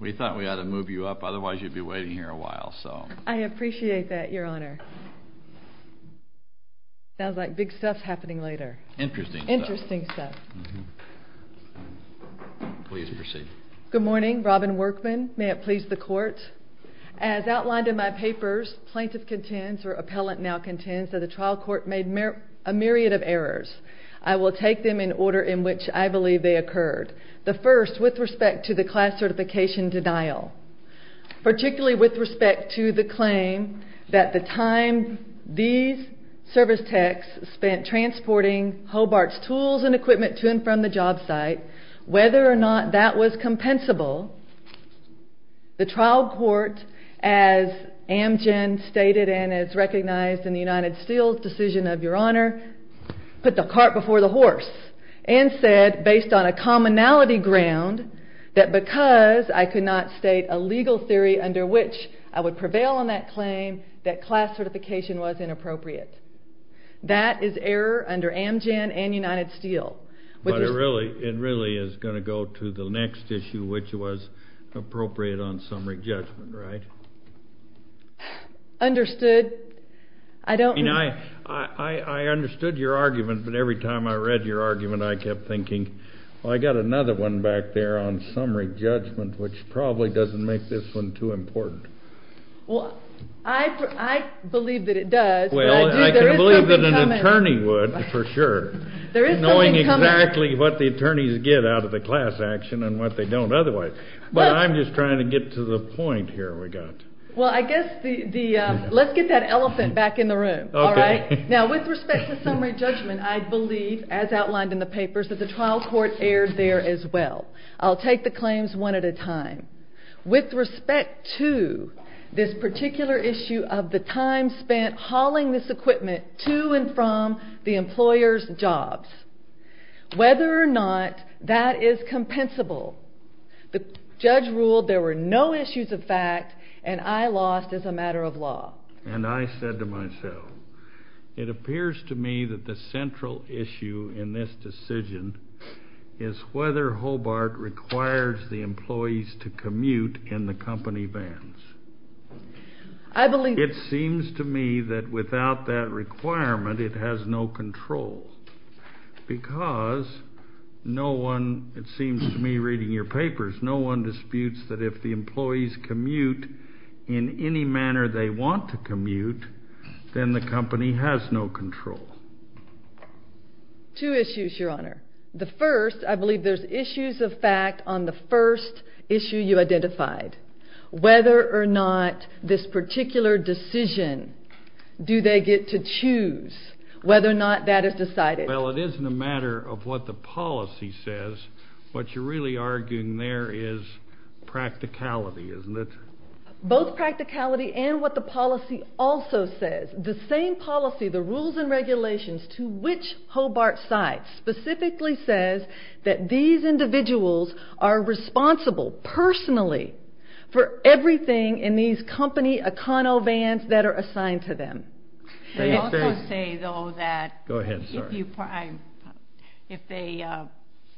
We thought we ought to move you up, otherwise you'd be waiting here a while. I appreciate that, Your Honor. Sounds like big stuff's happening later. Interesting stuff. Interesting stuff. Please proceed. Good morning. Robin Workman. May it please the Court. As outlined in my papers, plaintiff contends, or appellant now contends, that the trial court made a myriad of errors. I will take them in order in which I believe they occurred. The first, with respect to the class certification denial. Particularly with respect to the claim that the time these service techs spent transporting Hobart's tools and equipment to and from the job site, whether or not that was compensable, the trial court, as Amgen stated and as recognized in the United Steel's decision of Your Honor, put the cart before the horse and said, based on a commonality ground, that because I could not state a legal theory under which I would prevail on that claim, that class certification was inappropriate. That is error under Amgen and United Steel. But it really is going to go to the next issue, which was appropriate on summary judgment, right? Understood. I don't... I mean, I understood your argument, but every time I read your argument I kept thinking, well, I've got another one back there on summary judgment, which probably doesn't make this one too important. Well, I believe that it does. Well, I can believe that an attorney would, for sure, knowing exactly what the attorneys get out of the class action and what they don't otherwise. Well, I guess the... let's get that elephant back in the room, all right? Now, with respect to summary judgment, I believe, as outlined in the papers, that the trial court erred there as well. I'll take the claims one at a time. With respect to this particular issue of the time spent hauling this equipment to and from the employer's jobs, whether or not that is compensable, the judge ruled there were no issues of fact and I lost as a matter of law. And I said to myself, it appears to me that the central issue in this decision is whether Hobart requires the employees to commute in the company vans. I believe... It seems to me that without that requirement it has no control because no one, it seems to me reading your papers, no one disputes that if the employees commute in any manner they want to commute, then the company has no control. Two issues, Your Honor. The first, I believe there's issues of fact on the first issue you identified. Whether or not this particular decision, do they get to choose whether or not that is decided? Well, it isn't a matter of what the policy says. What you're really arguing there is practicality, isn't it? Both practicality and what the policy also says. The same policy, the rules and regulations to which Hobart cites specifically says that these individuals are responsible personally for everything in these company econo-vans that are assigned to them. They also say, though, that if they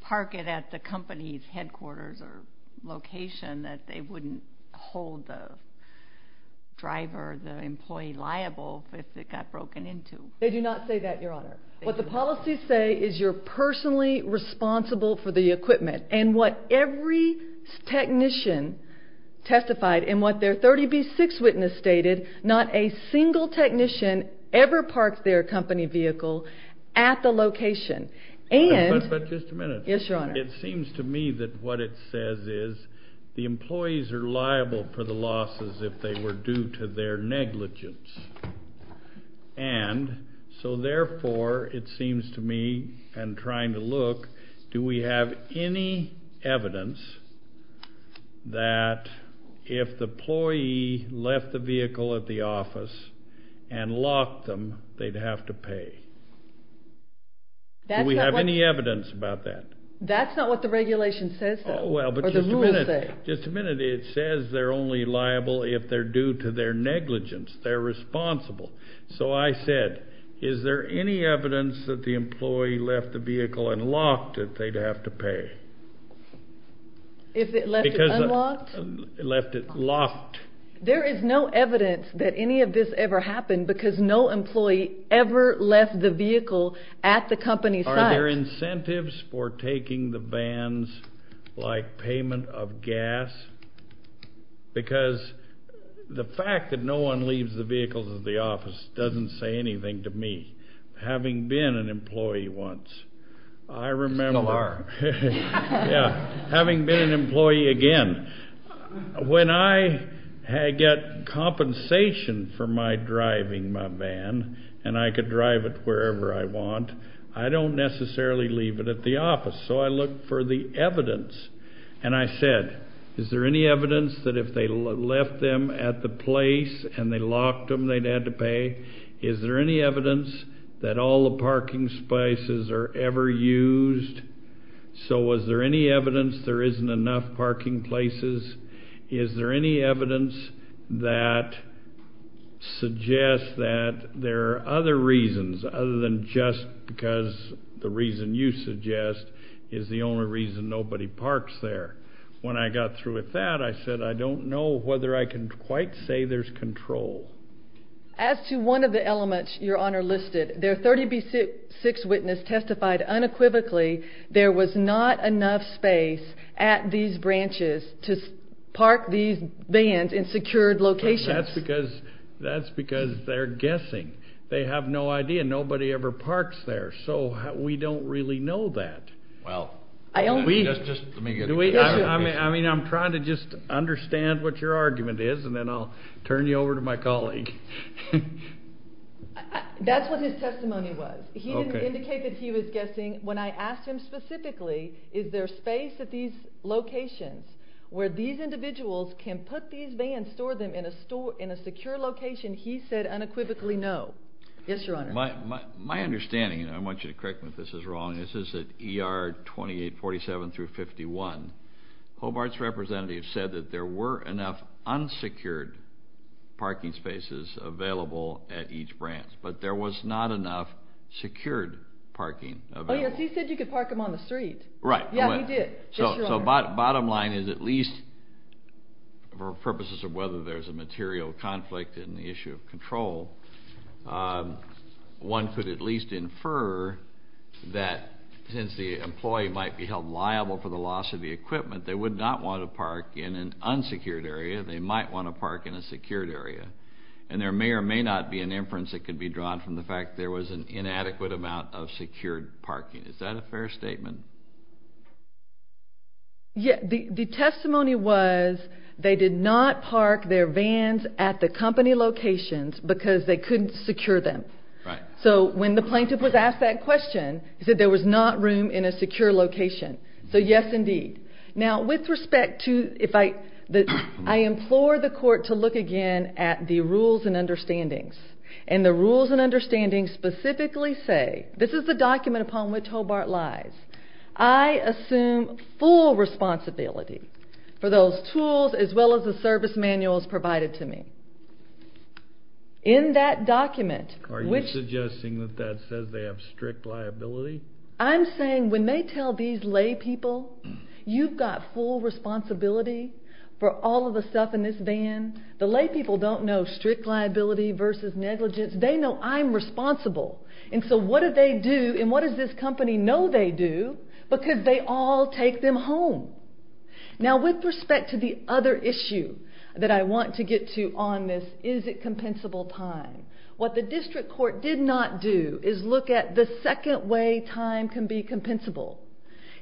park it at the company's headquarters or location that they wouldn't hold the driver, the employee liable if it got broken into. They do not say that, Your Honor. What the policies say is you're personally responsible for the equipment. And what every technician testified and what their 30B-6 witness stated, not a single technician ever parked their company vehicle at the location. But just a minute. Yes, Your Honor. It seems to me that what it says is the employees are liable for the losses if they were due to their negligence. And so therefore, it seems to me, and trying to look, do we have any evidence that if the employee left the vehicle at the office and locked them, they'd have to pay? Do we have any evidence about that? That's not what the regulation says, though. Oh, well, but just a minute. Or the rules say. Just a minute. It says they're only liable if they're due to their negligence. They're responsible. So I said, is there any evidence that the employee left the vehicle and locked it, they'd have to pay? If it left it unlocked? Left it locked. There is no evidence that any of this ever happened because no employee ever left the vehicle at the company site. Are there incentives for taking the vans like payment of gas? Because the fact that no one leaves the vehicles at the office doesn't say anything to me. Having been an employee once, I remember. You still are. Yeah. Having been an employee again, when I get compensation for my driving my van and I can drive it wherever I want, I don't necessarily leave it at the office. So I look for the evidence. And I said, is there any evidence that if they left them at the place and they locked them, they'd have to pay? Is there any evidence that all the parking spaces are ever used? So is there any evidence there isn't enough parking places? Is there any evidence that suggests that there are other reasons other than just because the reason you suggest is the only reason nobody parks there? When I got through with that, I said, I don't know whether I can quite say there's control. As to one of the elements Your Honor listed, their 30B6 witness testified unequivocally there was not enough space at these branches to park these vans in secured locations. That's because they're guessing. They have no idea. Nobody ever parks there. So we don't really know that. Well, let me get it. I'm trying to just understand what your argument is, and then I'll turn you over to my colleague. That's what his testimony was. He didn't indicate that he was guessing. When I asked him specifically, is there space at these locations where these individuals can put these vans, store them in a secure location, he said unequivocally no. Yes, Your Honor. My understanding, and I want you to correct me if this is wrong, is that ER 2847 through 51, Hobart's representative said that there were enough unsecured parking spaces available at each branch, but there was not enough secured parking available. Oh, yes, he said you could park them on the street. Right. Yeah, he did. So bottom line is at least for purposes of whether there's a material conflict in the issue of control, one could at least infer that since the employee might be held liable for the loss of the equipment, they would not want to park in an unsecured area. They might want to park in a secured area. And there may or may not be an inference that could be drawn from the fact there was an inadequate amount of secured parking. Is that a fair statement? Yeah, the testimony was they did not park their vans at the company locations because they couldn't secure them. Right. So when the plaintiff was asked that question, he said there was not room in a secure location. So yes, indeed. Now, with respect to if I implore the court to look again at the rules and understandings, and the rules and understandings specifically say, this is the document upon which Hobart lies. I assume full responsibility for those tools as well as the service manuals provided to me. In that document, which – Are you suggesting that that says they have strict liability? I'm saying when they tell these laypeople, you've got full responsibility for all of the stuff in this van. The laypeople don't know strict liability versus negligence. They know I'm responsible. And so what do they do, and what does this company know they do? Because they all take them home. Now, with respect to the other issue that I want to get to on this, is it compensable time? What the district court did not do is look at the second way time can be compensable.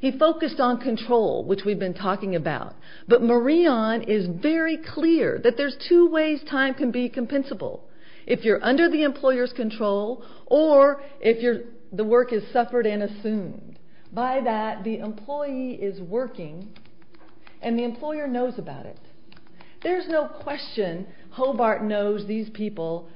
He focused on control, which we've been talking about. But Marion is very clear that there's two ways time can be compensable. If you're under the employer's control, or if the work is suffered and assumed. By that, the employee is working, and the employer knows about it. There's no question Hobart knows these people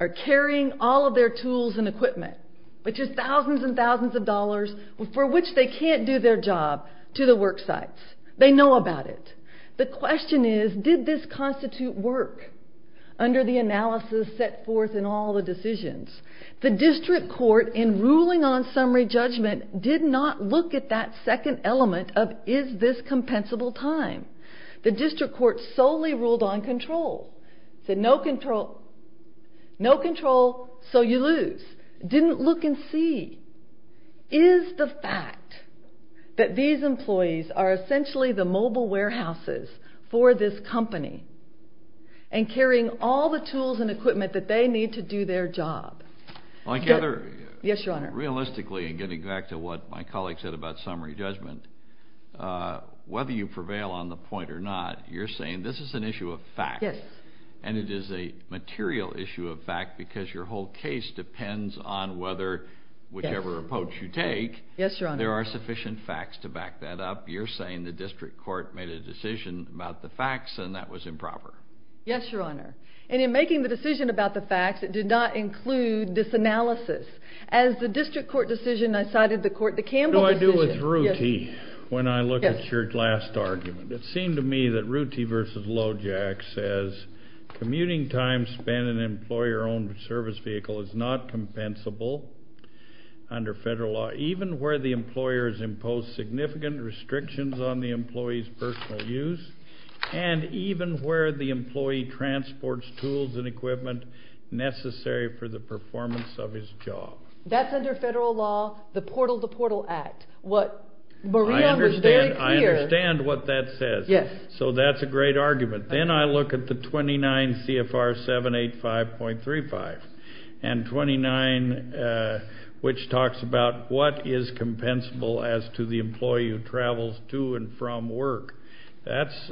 are carrying all of their tools and equipment, which is thousands and thousands of dollars, for which they can't do their job to the work sites. They know about it. The question is, did this constitute work under the analysis set forth in all the decisions? The district court, in ruling on summary judgment, did not look at that second element of is this compensable time. The district court solely ruled on control. Said no control, so you lose. Didn't look and see. Is the fact that these employees are essentially the mobile warehouses for this company and carrying all the tools and equipment that they need to do their job. Realistically, getting back to what my colleague said about summary judgment, whether you prevail on the point or not, you're saying this is an issue of fact. And it is a material issue of fact because your whole case depends on whichever approach you take. There are sufficient facts to back that up. You're saying the district court made a decision about the facts, and that was improper. Yes, Your Honor. And in making the decision about the facts, it did not include this analysis. As the district court decision, I cited the Campbell decision. What do I do with Ruti when I look at your last argument? It seemed to me that Ruti v. Lojak says, commuting time spent in an employer-owned service vehicle is not compensable under federal law, even where the employer has imposed significant restrictions on the employee's personal use, and even where the employee transports tools and equipment necessary for the performance of his job. That's under federal law, the Portal to Portal Act. I understand what that says. Yes. So that's a great argument. Then I look at the 29 CFR 785.35, and 29 which talks about what is compensable as to the employee who travels to and from work. That's,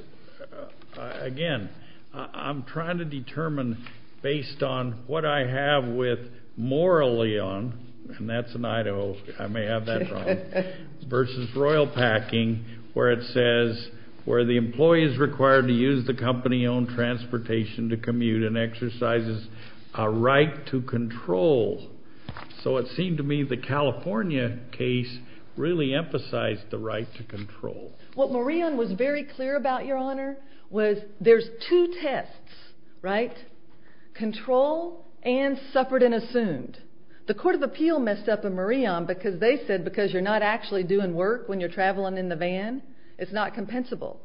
again, I'm trying to determine based on what I have with morally on, and that's in Idaho, I may have that wrong, versus royal packing where it says where the employee is required to use the company-owned transportation to commute and exercises a right to control. So it seemed to me the California case really emphasized the right to control. What Maureen was very clear about, Your Honor, was there's two tests, right? Control and suffered and assumed. The Court of Appeal messed up a marion because they said because you're not actually doing work when you're traveling in the van, it's not compensable.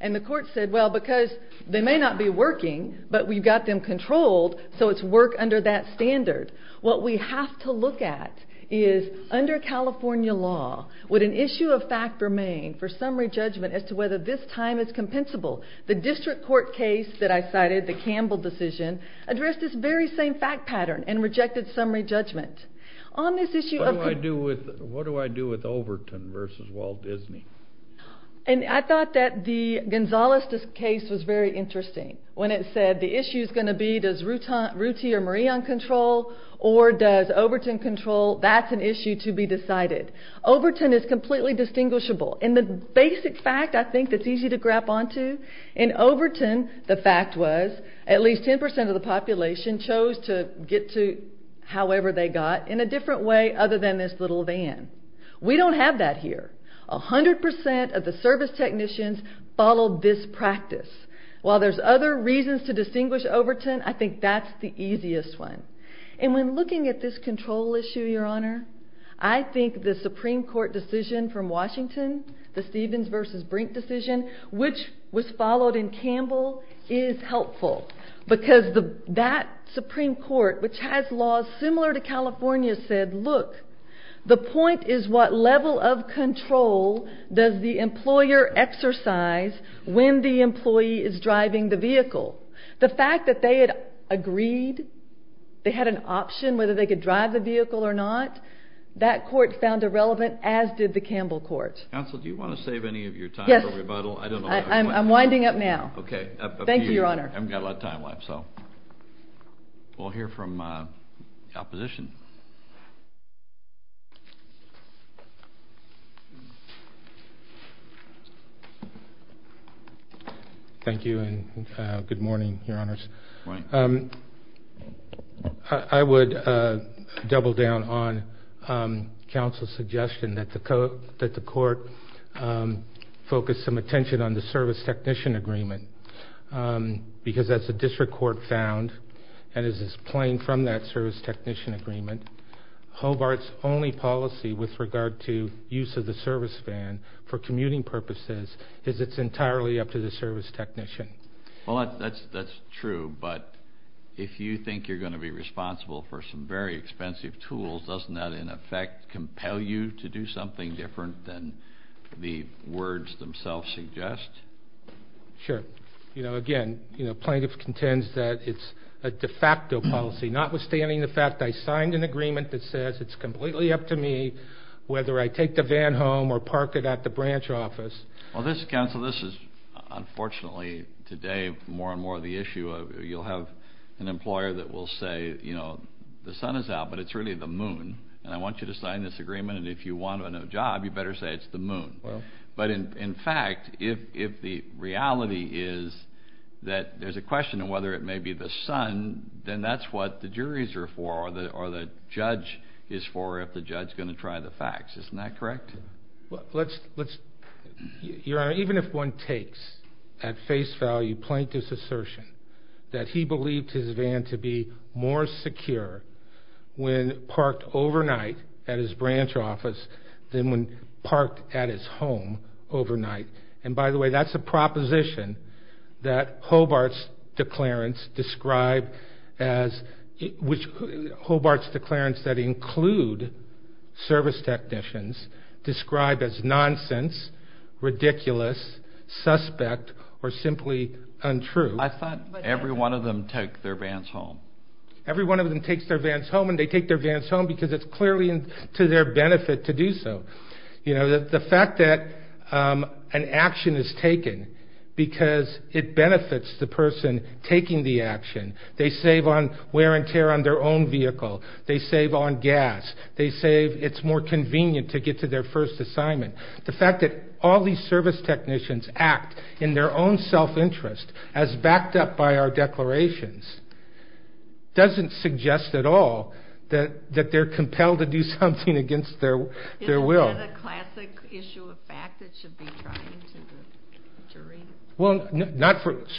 And the court said, Well, because they may not be working, but we've got them controlled, so it's work under that standard. What we have to look at is under California law, would an issue of fact remain for summary judgment as to whether this time is compensable? The district court case that I cited, the Campbell decision, addressed this very same fact pattern and rejected summary judgment. What do I do with Overton versus Walt Disney? And I thought that the Gonzales case was very interesting when it said the issue is going to be does Ruti or Marie own control or does Overton control? That's an issue to be decided. Overton is completely distinguishable. And the basic fact I think that's easy to grab onto, in Overton the fact was at least 10% of the population chose to get to however they got in a different way other than this little van. We don't have that here. 100% of the service technicians followed this practice. While there's other reasons to distinguish Overton, I think that's the easiest one. And when looking at this control issue, Your Honor, I think the Supreme Court decision from Washington, the Stevens versus Brink decision, which was followed in Campbell, is helpful. Because that Supreme Court, which has laws similar to California's, said, look, the point is what level of control does the employer exercise when the employee is driving the vehicle. The fact that they had agreed, they had an option whether they could drive the vehicle or not, that court found irrelevant, as did the Campbell court. Counsel, do you want to save any of your time for rebuttal? Yes. I'm winding up now. Okay. Thank you, Your Honor. I haven't got a lot of time left. We'll hear from the opposition. Thank you and good morning, Your Honors. Good morning. I would double down on counsel's suggestion that the court focus some attention on the service technician agreement. Because as the district court found, and as is plain from that service technician agreement, Hobart's only policy with regard to use of the service van for commuting purposes is it's entirely up to the service technician. Well, that's true. But if you think you're going to be responsible for some very expensive tools, doesn't that in effect compel you to do something different than the words themselves suggest? Sure. You know, again, plaintiff contends that it's a de facto policy. Notwithstanding the fact I signed an agreement that says it's completely up to me whether I take the van home or park it at the branch office. Well, counsel, this is unfortunately today more and more the issue. You'll have an employer that will say, you know, the sun is out, but it's really the moon, and I want you to sign this agreement, and if you want a new job, you better say it's the moon. But in fact, if the reality is that there's a question of whether it may be the sun, then that's what the juries are for or the judge is for if the judge is going to try the facts. Isn't that correct? Your Honor, even if one takes at face value plaintiff's assertion that he believed his van to be more secure when parked overnight at his branch office than when parked at his home overnight. And by the way, that's a proposition that Hobart's declarants describe as which Hobart's declarants that include service technicians describe as nonsense, ridiculous, suspect, or simply untrue. I thought every one of them take their vans home. Every one of them takes their vans home, and they take their vans home because it's clearly to their benefit to do so. You know, the fact that an action is taken because it benefits the person taking the action, they save on wear and tear on their own vehicle, they save on gas, they save it's more convenient to get to their first assignment. The fact that all these service technicians act in their own self-interest as backed up by our declarations doesn't suggest at all that they're compelled to do something against their will. Isn't that a classic issue of fact that should be trying to the jury? Well,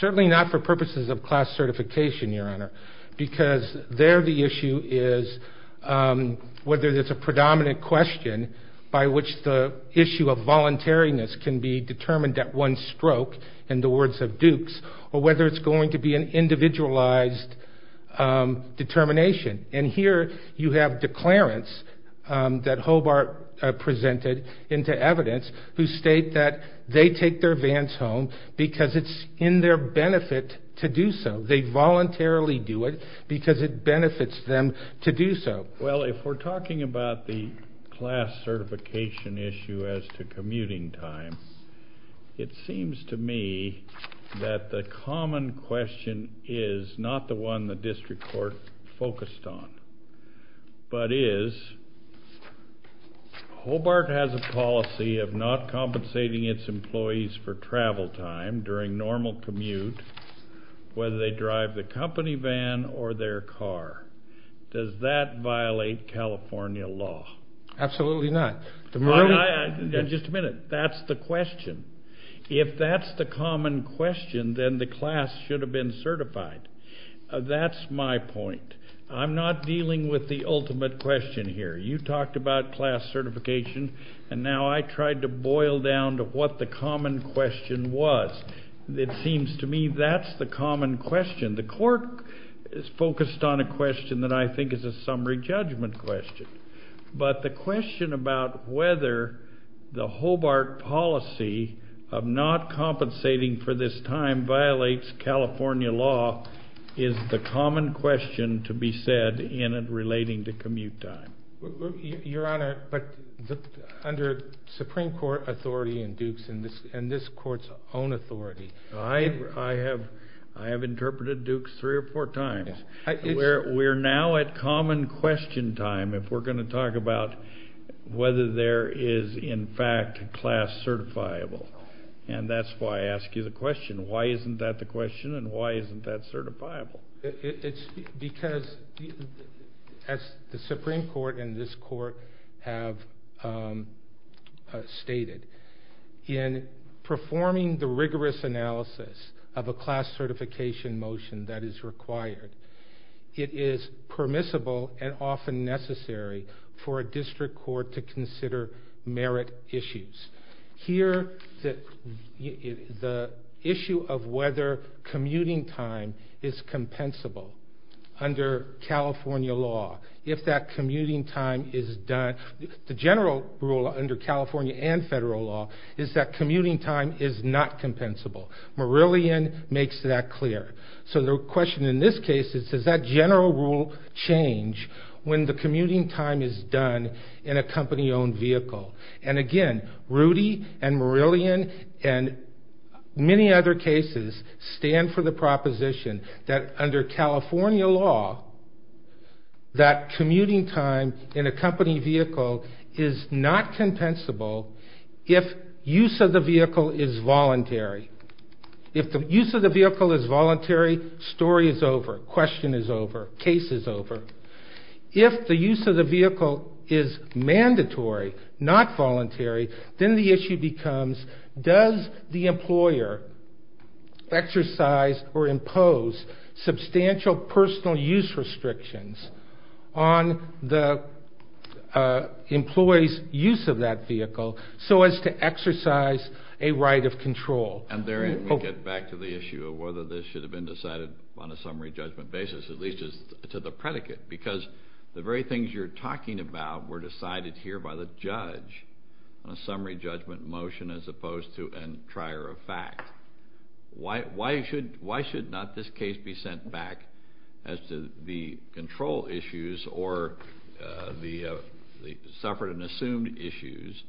certainly not for purposes of class certification, Your Honor, because there the issue is whether there's a predominant question by which the issue of voluntariness can be determined at one stroke, in the words of Dukes, or whether it's going to be an individualized determination. And here you have declarants that Hobart presented into evidence who state that they take their vans home because it's in their benefit to do so. They voluntarily do it because it benefits them to do so. Well, if we're talking about the class certification issue as to commuting time, it seems to me that the common question is not the one the district court focused on, but is Hobart has a policy of not compensating its employees for travel time during normal commute, whether they drive the company van or their car. Does that violate California law? Absolutely not. Just a minute. That's the question. If that's the common question, then the class should have been certified. That's my point. I'm not dealing with the ultimate question here. You talked about class certification, and now I tried to boil down to what the common question was. It seems to me that's the common question. The court is focused on a question that I think is a summary judgment question. But the question about whether the Hobart policy of not compensating for this time violates California law is the common question to be said in it relating to commute time. Your Honor, but under Supreme Court authority in Dukes and this court's own authority, I have interpreted Dukes three or four times. We're now at common question time if we're going to talk about whether there is in fact class certifiable, and why isn't that the question and why isn't that certifiable? It's because, as the Supreme Court and this court have stated, in performing the rigorous analysis of a class certification motion that is required, it is permissible and often necessary for a district court to consider merit issues. Here, the issue of whether commuting time is compensable under California law, if that commuting time is done, the general rule under California and federal law, is that commuting time is not compensable. Marillion makes that clear. So the question in this case is, does that general rule change when the commuting time is done in a company-owned vehicle? And again, Rudy and Marillion and many other cases stand for the proposition that under California law, that commuting time in a company vehicle is not compensable if use of the vehicle is voluntary. If the use of the vehicle is voluntary, story is over, question is over, case is over. If the use of the vehicle is mandatory, not voluntary, then the issue becomes does the employer exercise or impose substantial personal use restrictions on the employee's use of that vehicle so as to exercise a right of control? And therein we get back to the issue of whether this should have been decided on a summary judgment basis, at least to the predicate, because the very things you're talking about were decided here by the judge on a summary judgment motion as opposed to a trier of fact. Why should not this case be sent back as to the control issues or the suffered and assumed issues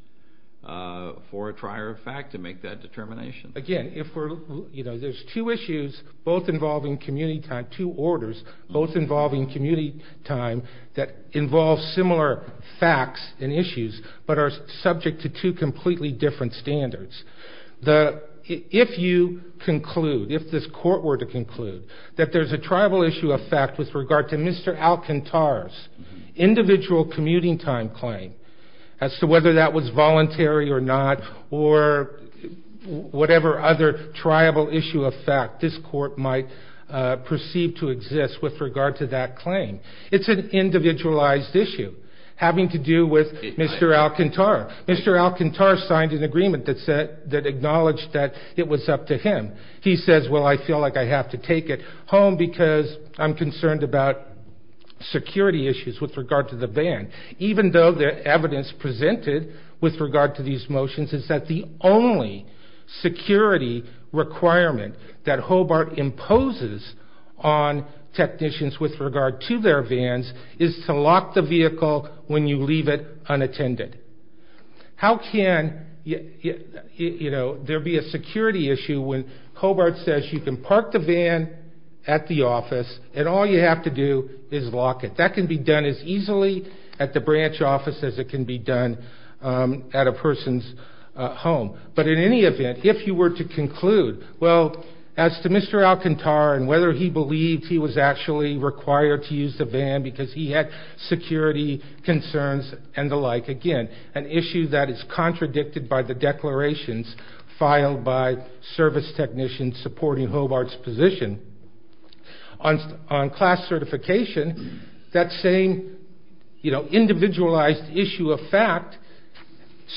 for a trier of fact to make that determination? Again, there's two issues, both involving community time, two orders, both involving community time that involve similar facts and issues but are subject to two completely different standards. If you conclude, if this court were to conclude, that there's a tribal issue of fact with regard to Mr. Alcantara's individual commuting time claim as to whether that was voluntary or not or whatever other tribal issue of fact this court might perceive to exist with regard to that claim, it's an individualized issue having to do with Mr. Alcantara. Mr. Alcantara signed an agreement that acknowledged that it was up to him. He says, well, I feel like I have to take it home because I'm concerned about security issues with regard to the van, even though the evidence presented with regard to these motions is that the only security requirement that Hobart imposes on technicians with regard to their vans is to lock the vehicle when you leave it unattended. How can there be a security issue when Hobart says you can park the van at the office and all you have to do is lock it? That can be done as easily at the branch office as it can be done at a person's home. But in any event, if you were to conclude, well, as to Mr. Alcantara and whether he believed he was actually required to use the van because he had security concerns and the like, again, an issue that is contradicted by the declarations filed by service technicians supporting Hobart's position. On class certification, that same individualized issue of fact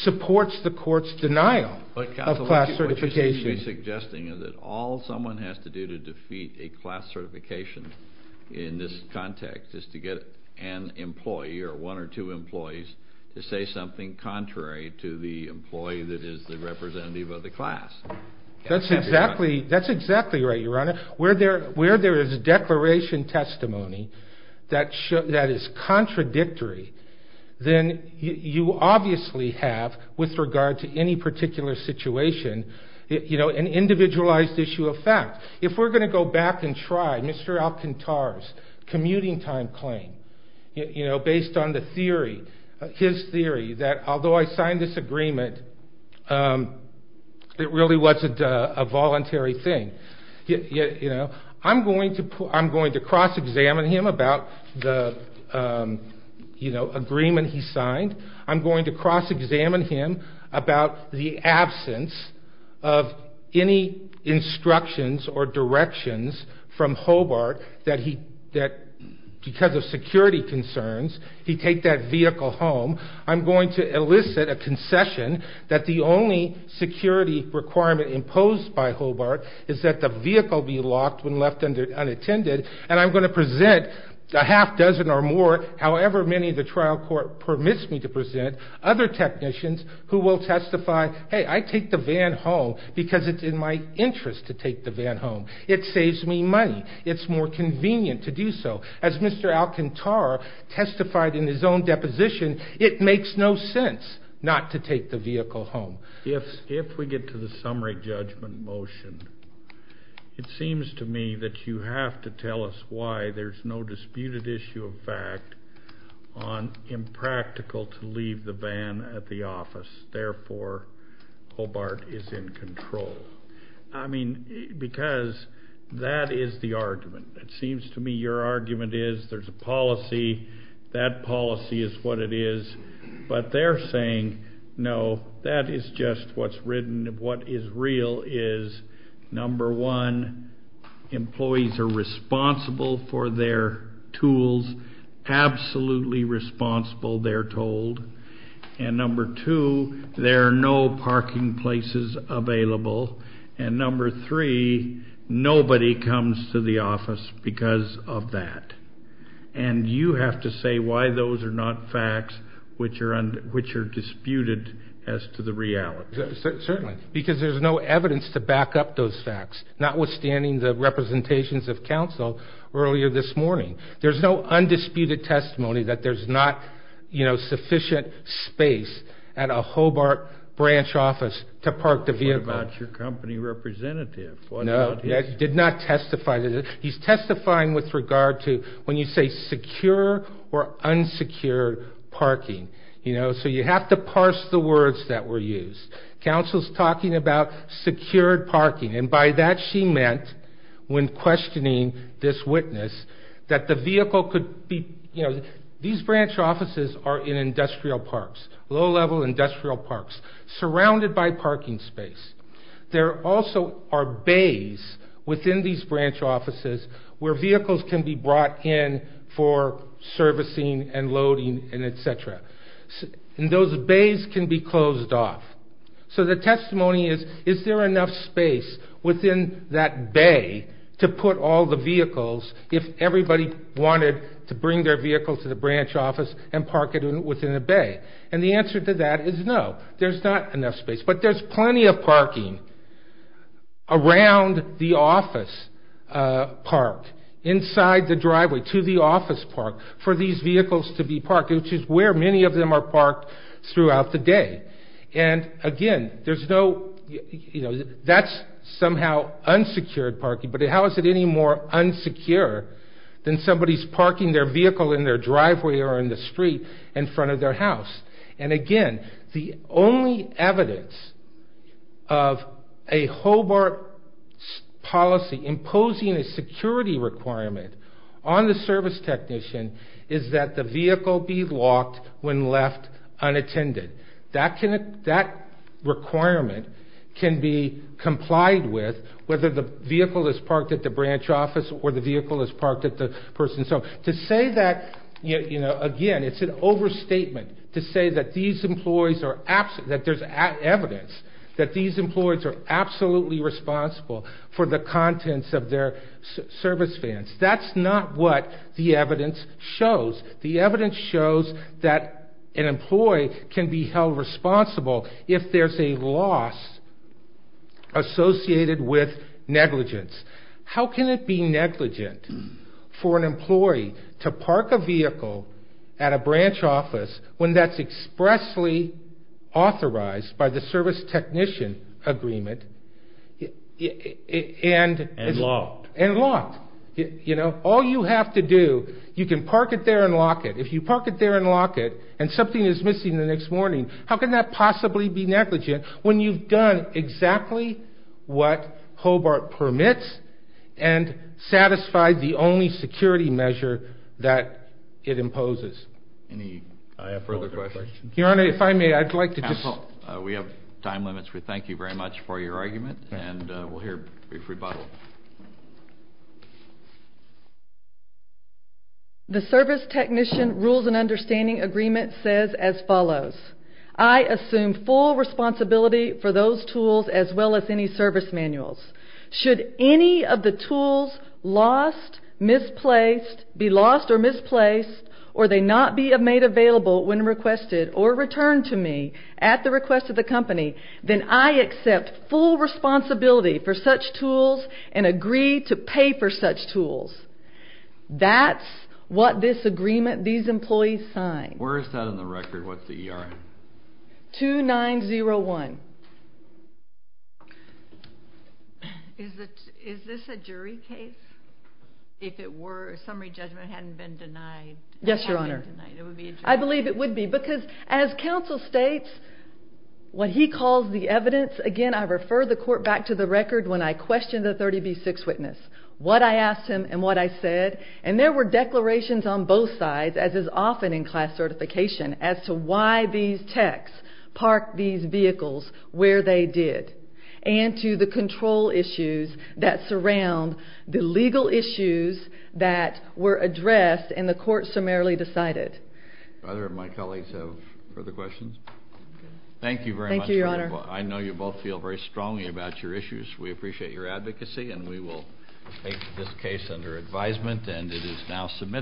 supports the court's denial of class certification. Counsel, what you're suggesting is that all someone has to do to defeat a class certification in this context is to get an employee or one or two employees to say something contrary to the employee that is the representative of the class. That's exactly right, Your Honor. Where there is declaration testimony that is contradictory, then you obviously have, with regard to any particular situation, an individualized issue of fact. If we're going to go back and try Mr. Alcantara's commuting time claim, based on the theory, his theory, that although I signed this agreement, it really wasn't a voluntary thing. I'm going to cross-examine him about the agreement he signed. I'm going to cross-examine him about the absence of any instructions or directions from Hobart that because of security concerns, he take that vehicle home. I'm going to elicit a concession that the only security requirement imposed by Hobart is that the vehicle be locked when left unattended. And I'm going to present a half dozen or more, however many the trial court permits me to present, other technicians who will testify, hey, I take the van home because it's in my interest to take the van home. It saves me money. It's more convenient to do so. As Mr. Alcantara testified in his own deposition, it makes no sense not to take the vehicle home. If we get to the summary judgment motion, it seems to me that you have to tell us why there's no disputed issue of fact on impractical to leave the van at the office. Therefore, Hobart is in control. I mean, because that is the argument. It seems to me your argument is there's a policy. That policy is what it is. But they're saying, no, that is just what's written. What is real is, number one, employees are responsible for their tools, absolutely responsible, they're told. And number two, there are no parking places available. And number three, nobody comes to the office because of that. And you have to say why those are not facts which are disputed as to the reality. Certainly, because there's no evidence to back up those facts, notwithstanding the representations of counsel earlier this morning. There's no undisputed testimony that there's not sufficient space at a Hobart branch office to park the vehicle. What about your company representative? No, he did not testify. He's testifying with regard to when you say secure or unsecured parking. So you have to parse the words that were used. Counsel's talking about secured parking. And by that she meant, when questioning this witness, that the vehicle could be, you know, these branch offices are in industrial parks, low-level industrial parks, surrounded by parking space. There also are bays within these branch offices where vehicles can be brought in for servicing and loading and et cetera. And those bays can be closed off. So the testimony is, is there enough space within that bay to put all the vehicles if everybody wanted to bring their vehicle to the branch office and park it within a bay? And the answer to that is no. There's not enough space. But there's plenty of parking around the office park, inside the driveway to the office park, for these vehicles to be parked, which is where many of them are parked throughout the day. And, again, there's no, you know, that's somehow unsecured parking. But how is it any more unsecure than somebody's parking their vehicle in their driveway or in the street in front of their house? And, again, the only evidence of a Hobart policy imposing a security requirement on the service technician is that the vehicle be locked when left unattended. That requirement can be complied with whether the vehicle is parked at the branch office or the vehicle is parked at the person's home. To say that, you know, again, it's an overstatement to say that these employees are absolutely, that there's evidence that these employees are absolutely responsible for the contents of their service vans. That's not what the evidence shows. The evidence shows that an employee can be held responsible if there's a loss associated with negligence. How can it be negligent for an employee to park a vehicle at a branch office when that's expressly authorized by the service technician agreement and locked? You know, all you have to do, you can park it there and lock it. If you park it there and lock it and something is missing the next morning, how can that possibly be negligent when you've done exactly what Hobart permits and satisfied the only security measure that it imposes? Any further questions? Your Honor, if I may, I'd like to just... Counsel, we have time limits. We thank you very much for your argument, and we'll hear a brief rebuttal. The service technician rules and understanding agreement says as follows. I assume full responsibility for those tools as well as any service manuals. Should any of the tools lost, misplaced, be lost or misplaced, or they not be made available when requested or returned to me at the request of the company, then I accept full responsibility for such tools and agree to pay for such tools. That's what this agreement these employees signed. Where is that on the record? What's the ERN? 2901. Is this a jury case? If it were, a summary judgment hadn't been denied. Yes, Your Honor. It would be a jury case. I believe it would be because as counsel states, what he calls the evidence, again, I refer the court back to the record when I questioned the 30B6 witness, what I asked him and what I said, and there were declarations on both sides, as is often in class certification, as to why these techs parked these vehicles where they did and to the control issues that surround the legal issues that were addressed and the court summarily decided. Do either of my colleagues have further questions? Thank you very much. Thank you, Your Honor. I know you both feel very strongly about your issues. We appreciate your advocacy and we will take this case under advisement and it is now submitted.